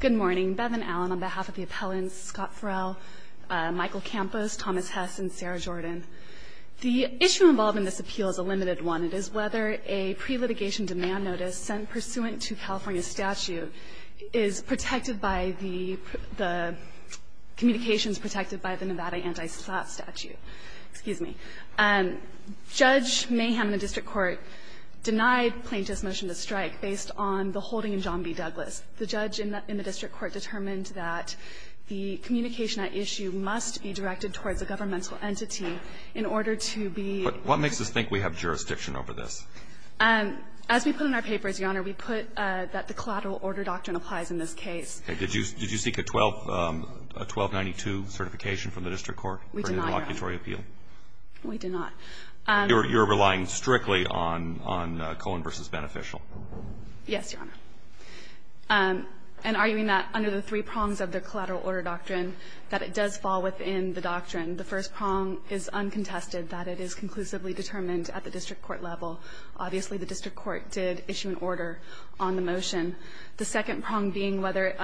Good morning. Beth and Alan, on behalf of the appellants, Scott Ferrell, Michael Campos, Thomas Hess, and Sarah Jordan. The issue involved in this appeal is a limited one. It is whether a pre-litigation demand notice sent pursuant to California statute is protected by the communications protected by the Nevada anti-slap statute. Excuse me. Judge Mayhem in the district court denied plaintiff's motion to strike based on the holding in John B. Douglas. The judge in the district court determined that the communication at issue must be directed towards a governmental entity in order to be But what makes us think we have jurisdiction over this? As we put in our papers, Your Honor, we put that the collateral order doctrine applies in this case. Did you seek a 1292 certification from the district court? We did not, Your Honor. We did not. You're relying strictly on Cohen v. Beneficial. Yes, Your Honor. And arguing that under the three prongs of the collateral order doctrine, that it does fall within the doctrine. The first prong is uncontested, that it is conclusively determined at the district court level. Obviously, the district court did issue an order on the motion. The second prong being whether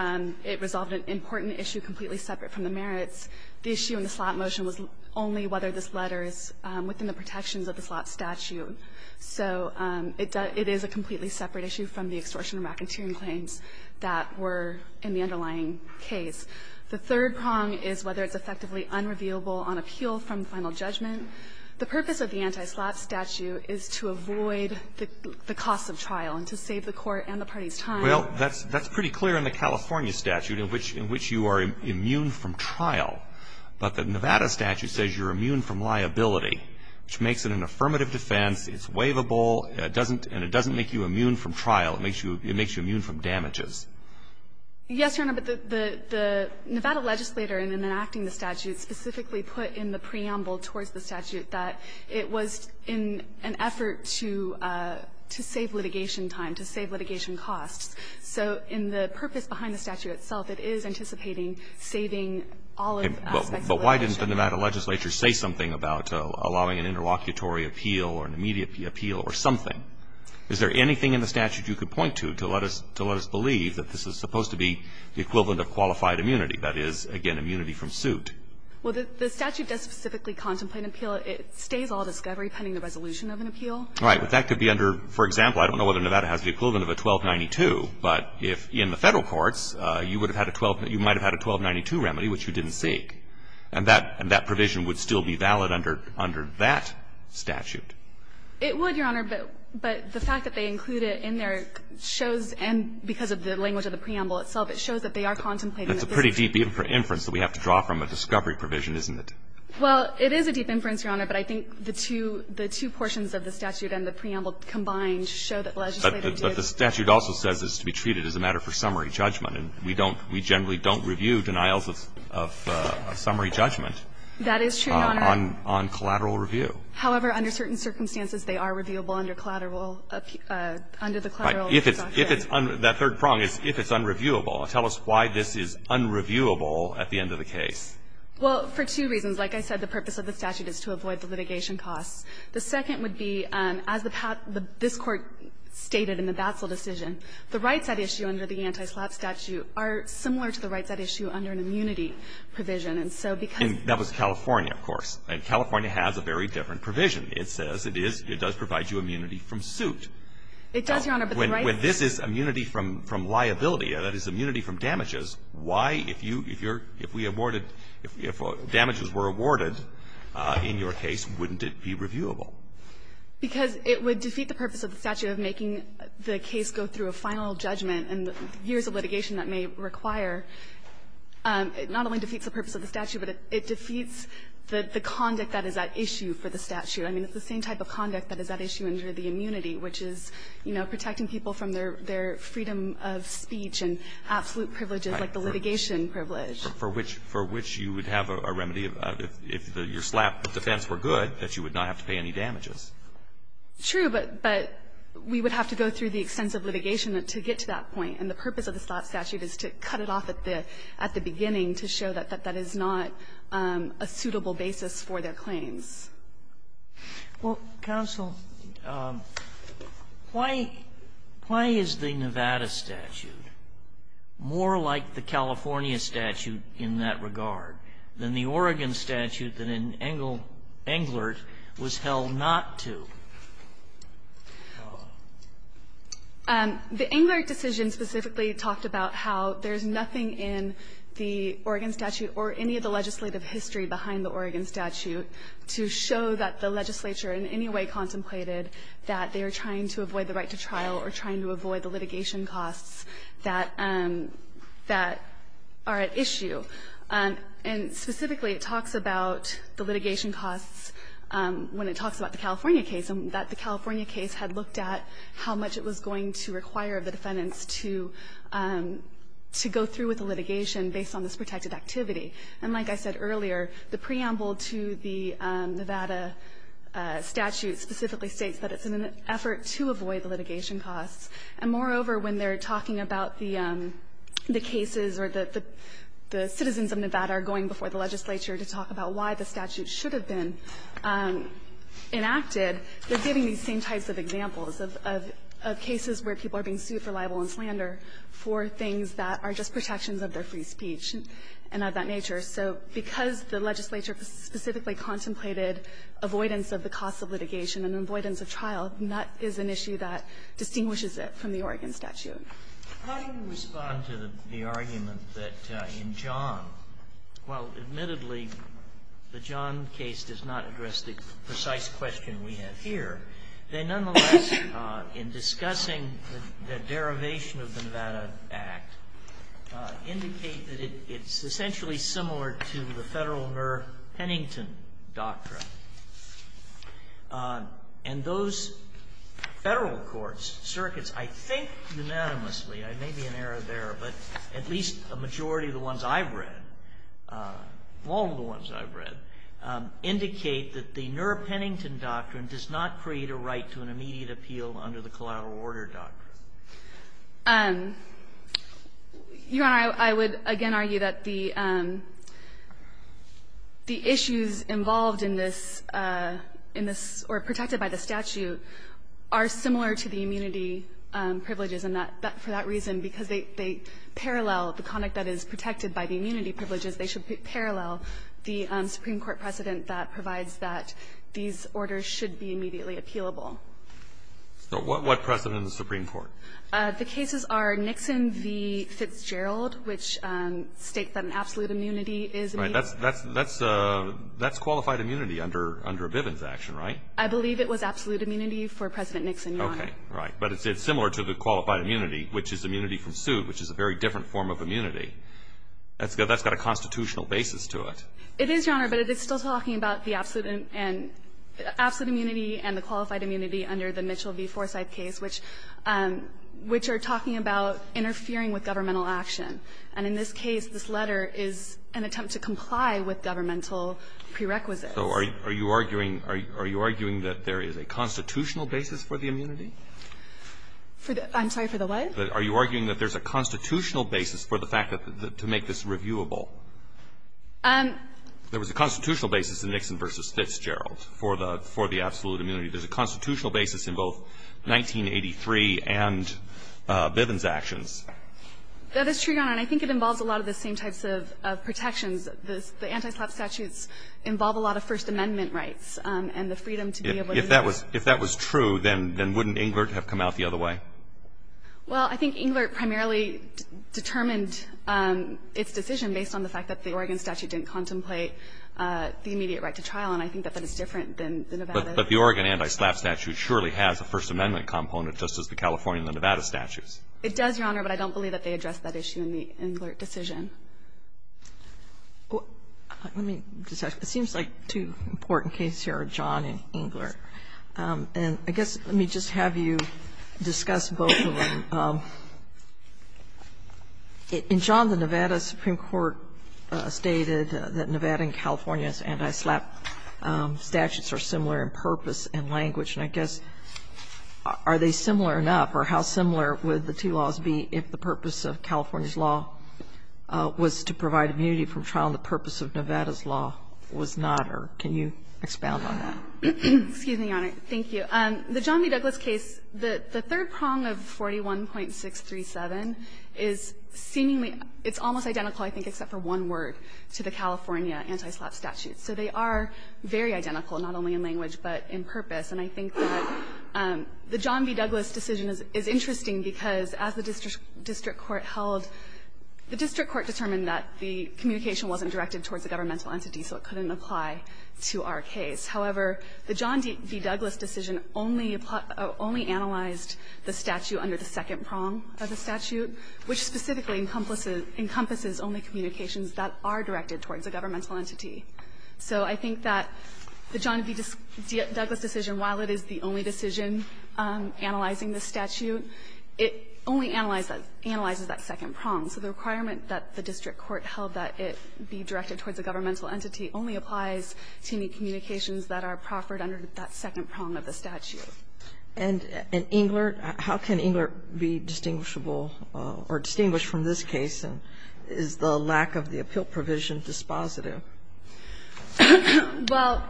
it resolved an important issue completely separate from the merits. The issue in the slap motion was only whether this letter is within the protections of the slap statute. So it does – it is a completely separate issue from the extortion and racketeering claims that were in the underlying case. The third prong is whether it's effectively unrevealable on appeal from final judgment. The purpose of the anti-slap statute is to avoid the costs of trial and to save the Court and the parties time. Well, that's pretty clear in the California statute in which you are immune from trial, but the Nevada statute says you're immune from liability, which makes it an affirmative defense, it's waivable, and it doesn't make you immune from trial. It makes you immune from damages. Yes, Your Honor, but the Nevada legislator, in enacting the statute, specifically put in the preamble towards the statute that it was in an effort to save litigation time, to save litigation costs. So in the purpose behind the statute itself, it is anticipating saving all of the aspects of litigation. Now, if the legislature says something about allowing an interlocutory appeal or an immediate appeal or something, is there anything in the statute you could point to, to let us believe that this is supposed to be the equivalent of qualified immunity, that is, again, immunity from suit? Well, the statute does specifically contemplate an appeal. It stays all discovery pending the resolution of an appeal. Right. But that could be under, for example, I don't know whether Nevada has the equivalent of a 1292, but if in the Federal courts, you would have had a 12 – you might have had a 1292 remedy, which you didn't seek, and that provision would still be valid under that statute. It would, Your Honor, but the fact that they include it in there shows, and because of the language of the preamble itself, it shows that they are contemplating a visit. That's a pretty deep inference that we have to draw from a discovery provision, isn't it? Well, it is a deep inference, Your Honor, but I think the two portions of the statute and the preamble combined show that the legislature did. But the statute also says it's to be treated as a matter for summary judgment. And we don't – we generally don't review denials of summary judgment on collateral review. However, under certain circumstances, they are reviewable under collateral – under the collateral. If it's – if it's – that third prong is if it's unreviewable. Tell us why this is unreviewable at the end of the case. Well, for two reasons. Like I said, the purpose of the statute is to avoid the litigation costs. The second would be, as this Court stated in the Batzel decision, the rights at issue under the anti-SLAP statute are similar to the rights at issue under an immunity provision. And so because – And that was California, of course. And California has a very different provision. It says it is – it does provide you immunity from suit. It does, Your Honor, but the rights – When this is immunity from liability, that is, immunity from damages, why, if you – if you're – if we awarded – if damages were awarded in your case, wouldn't it be reviewable? Because it would defeat the purpose of the statute of making the case go through a final judgment and years of litigation that may require – it not only defeats the purpose of the statute, but it defeats the conduct that is at issue for the statute. I mean, it's the same type of conduct that is at issue under the immunity, which is, you know, protecting people from their – their freedom of speech and absolute privileges, like the litigation privilege. For which – for which you would have a remedy if the – your SLAP defense were good, that you would not have to pay any damages. True, but – but we would have to go through the extensive litigation to get to that point, and the purpose of the SLAP statute is to cut it off at the – at the beginning to show that that is not a suitable basis for their claims. Well, counsel, why – why is the Nevada statute more like the California statute in that regard than the Oregon statute that in Engle – Englert was held not to be held not to? The Englert decision specifically talked about how there's nothing in the Oregon statute or any of the legislative history behind the Oregon statute to show that the legislature in any way contemplated that they are trying to avoid the right to trial or trying to avoid the litigation costs that – that are at issue. And specifically, it talks about the litigation costs when it talks about the California case, and that the California case had looked at how much it was going to require the defendants to – to go through with the litigation based on this protected activity. And like I said earlier, the preamble to the Nevada statute specifically states that it's an effort to avoid the litigation costs. And moreover, when they're talking about the – the cases or the – the citizens of Nevada are going before the legislature to talk about why the statute should have been enacted, they're giving these same types of examples of – of cases where people are being sued for libel and slander for things that are just protections of their free speech and of that nature. So because the legislature specifically contemplated avoidance of the costs of litigation and avoidance of trial, that is an issue that distinguishes it from the Oregon statute. Sotomayor, how do you respond to the argument that in John, while admittedly the John case does not address the precise question we have here, they nonetheless in discussing the derivation of the Nevada Act indicate that it's essentially similar to the Federal Murr-Hennington doctrine. And those Federal courts, circuits, I think unanimously, I may be in error there, but at least a majority of the ones I've read, all of the ones I've read, indicate that the Murr-Hennington doctrine does not create a right to an immediate appeal under the collateral order doctrine. Your Honor, I would again argue that the – the issues involved in this case are not in this – in this – or protected by the statute are similar to the immunity privileges, and for that reason, because they parallel the conduct that is protected by the immunity privileges, they should parallel the Supreme Court precedent that provides that these orders should be immediately appealable. So what precedent in the Supreme Court? The cases are Nixon v. Fitzgerald, which states that an absolute immunity is immediate. That's – that's – that's qualified immunity under – under Bivens' action, right? I believe it was absolute immunity for President Nixon, Your Honor. Okay. Right. But it's similar to the qualified immunity, which is immunity from suit, which is a very different form of immunity. That's got – that's got a constitutional basis to it. It is, Your Honor, but it is still talking about the absolute and – absolute immunity and the qualified immunity under the Mitchell v. Forsythe case, which – which are talking about interfering with governmental action. And in this case, this letter is an attempt to comply with governmental prerequisites. So are you – are you arguing – are you arguing that there is a constitutional basis for the immunity? For the – I'm sorry, for the what? Are you arguing that there's a constitutional basis for the fact that – to make this reviewable? There was a constitutional basis in Nixon v. Fitzgerald for the – for the absolute immunity. There's a constitutional basis in both 1983 and Bivens' actions. That is true, Your Honor, and I think it involves a lot of the same types of – of protections. The anti-SLAPP statutes involve a lot of First Amendment rights and the freedom to be able to use it. If that was – if that was true, then wouldn't Englert have come out the other way? Well, I think Englert primarily determined its decision based on the fact that the Oregon statute didn't contemplate the immediate right to trial, and I think that that is different than the Nevada. But the Oregon anti-SLAPP statute surely has a First Amendment component, just as the California and the Nevada statutes. It does, Your Honor, but I don't believe that they addressed that issue in the Englert decision. Let me just ask you. It seems like two important cases here are John and Englert. And I guess let me just have you discuss both of them. In John, the Nevada Supreme Court stated that Nevada and California's anti-SLAPP statutes are similar in purpose and language. And I guess, are they similar enough, or how similar would the two laws be if the purpose of California's law was to provide immunity from trial and the purpose of Nevada's law was not, or can you expound on that? Excuse me, Your Honor. Thank you. The John B. Douglas case, the third prong of 41.637 is seemingly – it's almost identical, I think, except for one word, to the California anti-SLAPP statute. So they are very identical, not only in language, but in purpose. And I think that the John B. Douglas decision is interesting because, as the district court held, the district court determined that the communication wasn't directed towards a governmental entity, so it couldn't apply to our case. However, the John B. Douglas decision only analyzed the statute under the second prong of the statute, which specifically encompasses only communications that are directed towards a governmental entity. So I think that the John B. Douglas decision, while it is the only decision analyzing the statute, it only analyzes that second prong. So the requirement that the district court held that it be directed towards a governmental entity only applies to any communications that are proffered under that second prong of the statute. And in Englert, how can Englert be distinguishable or distinguished from this case? Is the lack of the appeal provision dispositive? Well,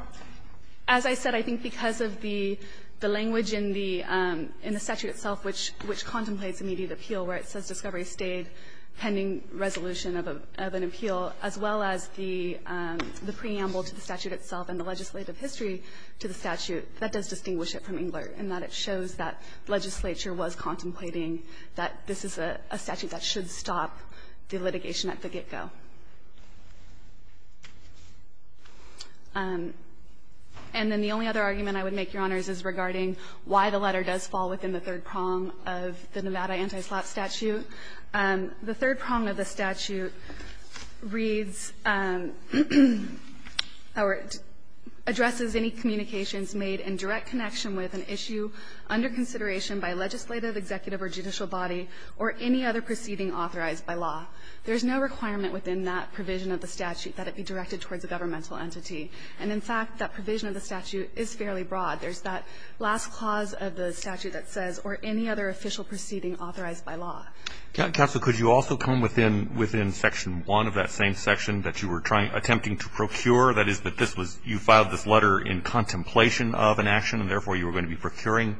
as I said, I think because of the language in the statute itself, which contemplates immediate appeal, where it says discovery stayed pending resolution of an appeal, as well as the preamble to the statute itself and the legislative history to the statute, that does distinguish it from Englert in that it shows that legislature was contemplating that this is a statute that should stop the litigation at the get-go. And then the only other argument I would make, Your Honors, is regarding why the letter does fall within the third prong of the Nevada anti-slot statute. The third prong of the statute reads or addresses any communications made in direct connection with an issue under consideration by legislative, executive, or judicial body, or any other proceeding authorized by law. There's no requirement within that provision of the statute that it be directed towards a governmental entity. And in fact, that provision of the statute is fairly broad. There's that last clause of the statute that says, or any other official proceeding authorized by law. Counsel, could you also come within section 1 of that same section that you were attempting to procure? That is, that this was you filed this letter in contemplation of an action, and therefore you were going to be procuring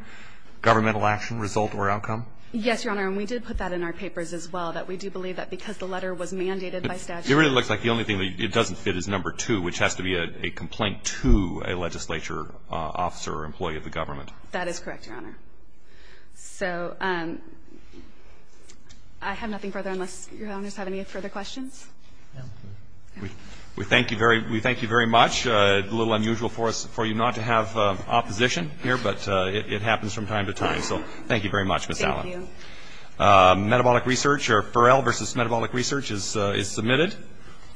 governmental action, result, or outcome? Yes, Your Honor. And we did put that in our papers as well, that we do believe that because the letter was mandated by statute. It really looks like the only thing that it doesn't fit is number 2, which has to be a complaint to a legislature officer or employee of the government. That is correct, Your Honor. So I have nothing further unless Your Honors have any further questions. We thank you very much. A little unusual for you not to have opposition here, but it happens from time to time. So thank you very much, Ms. Allen. Thank you. Metabolic research, or Pharrell v. Metabolic Research is submitted.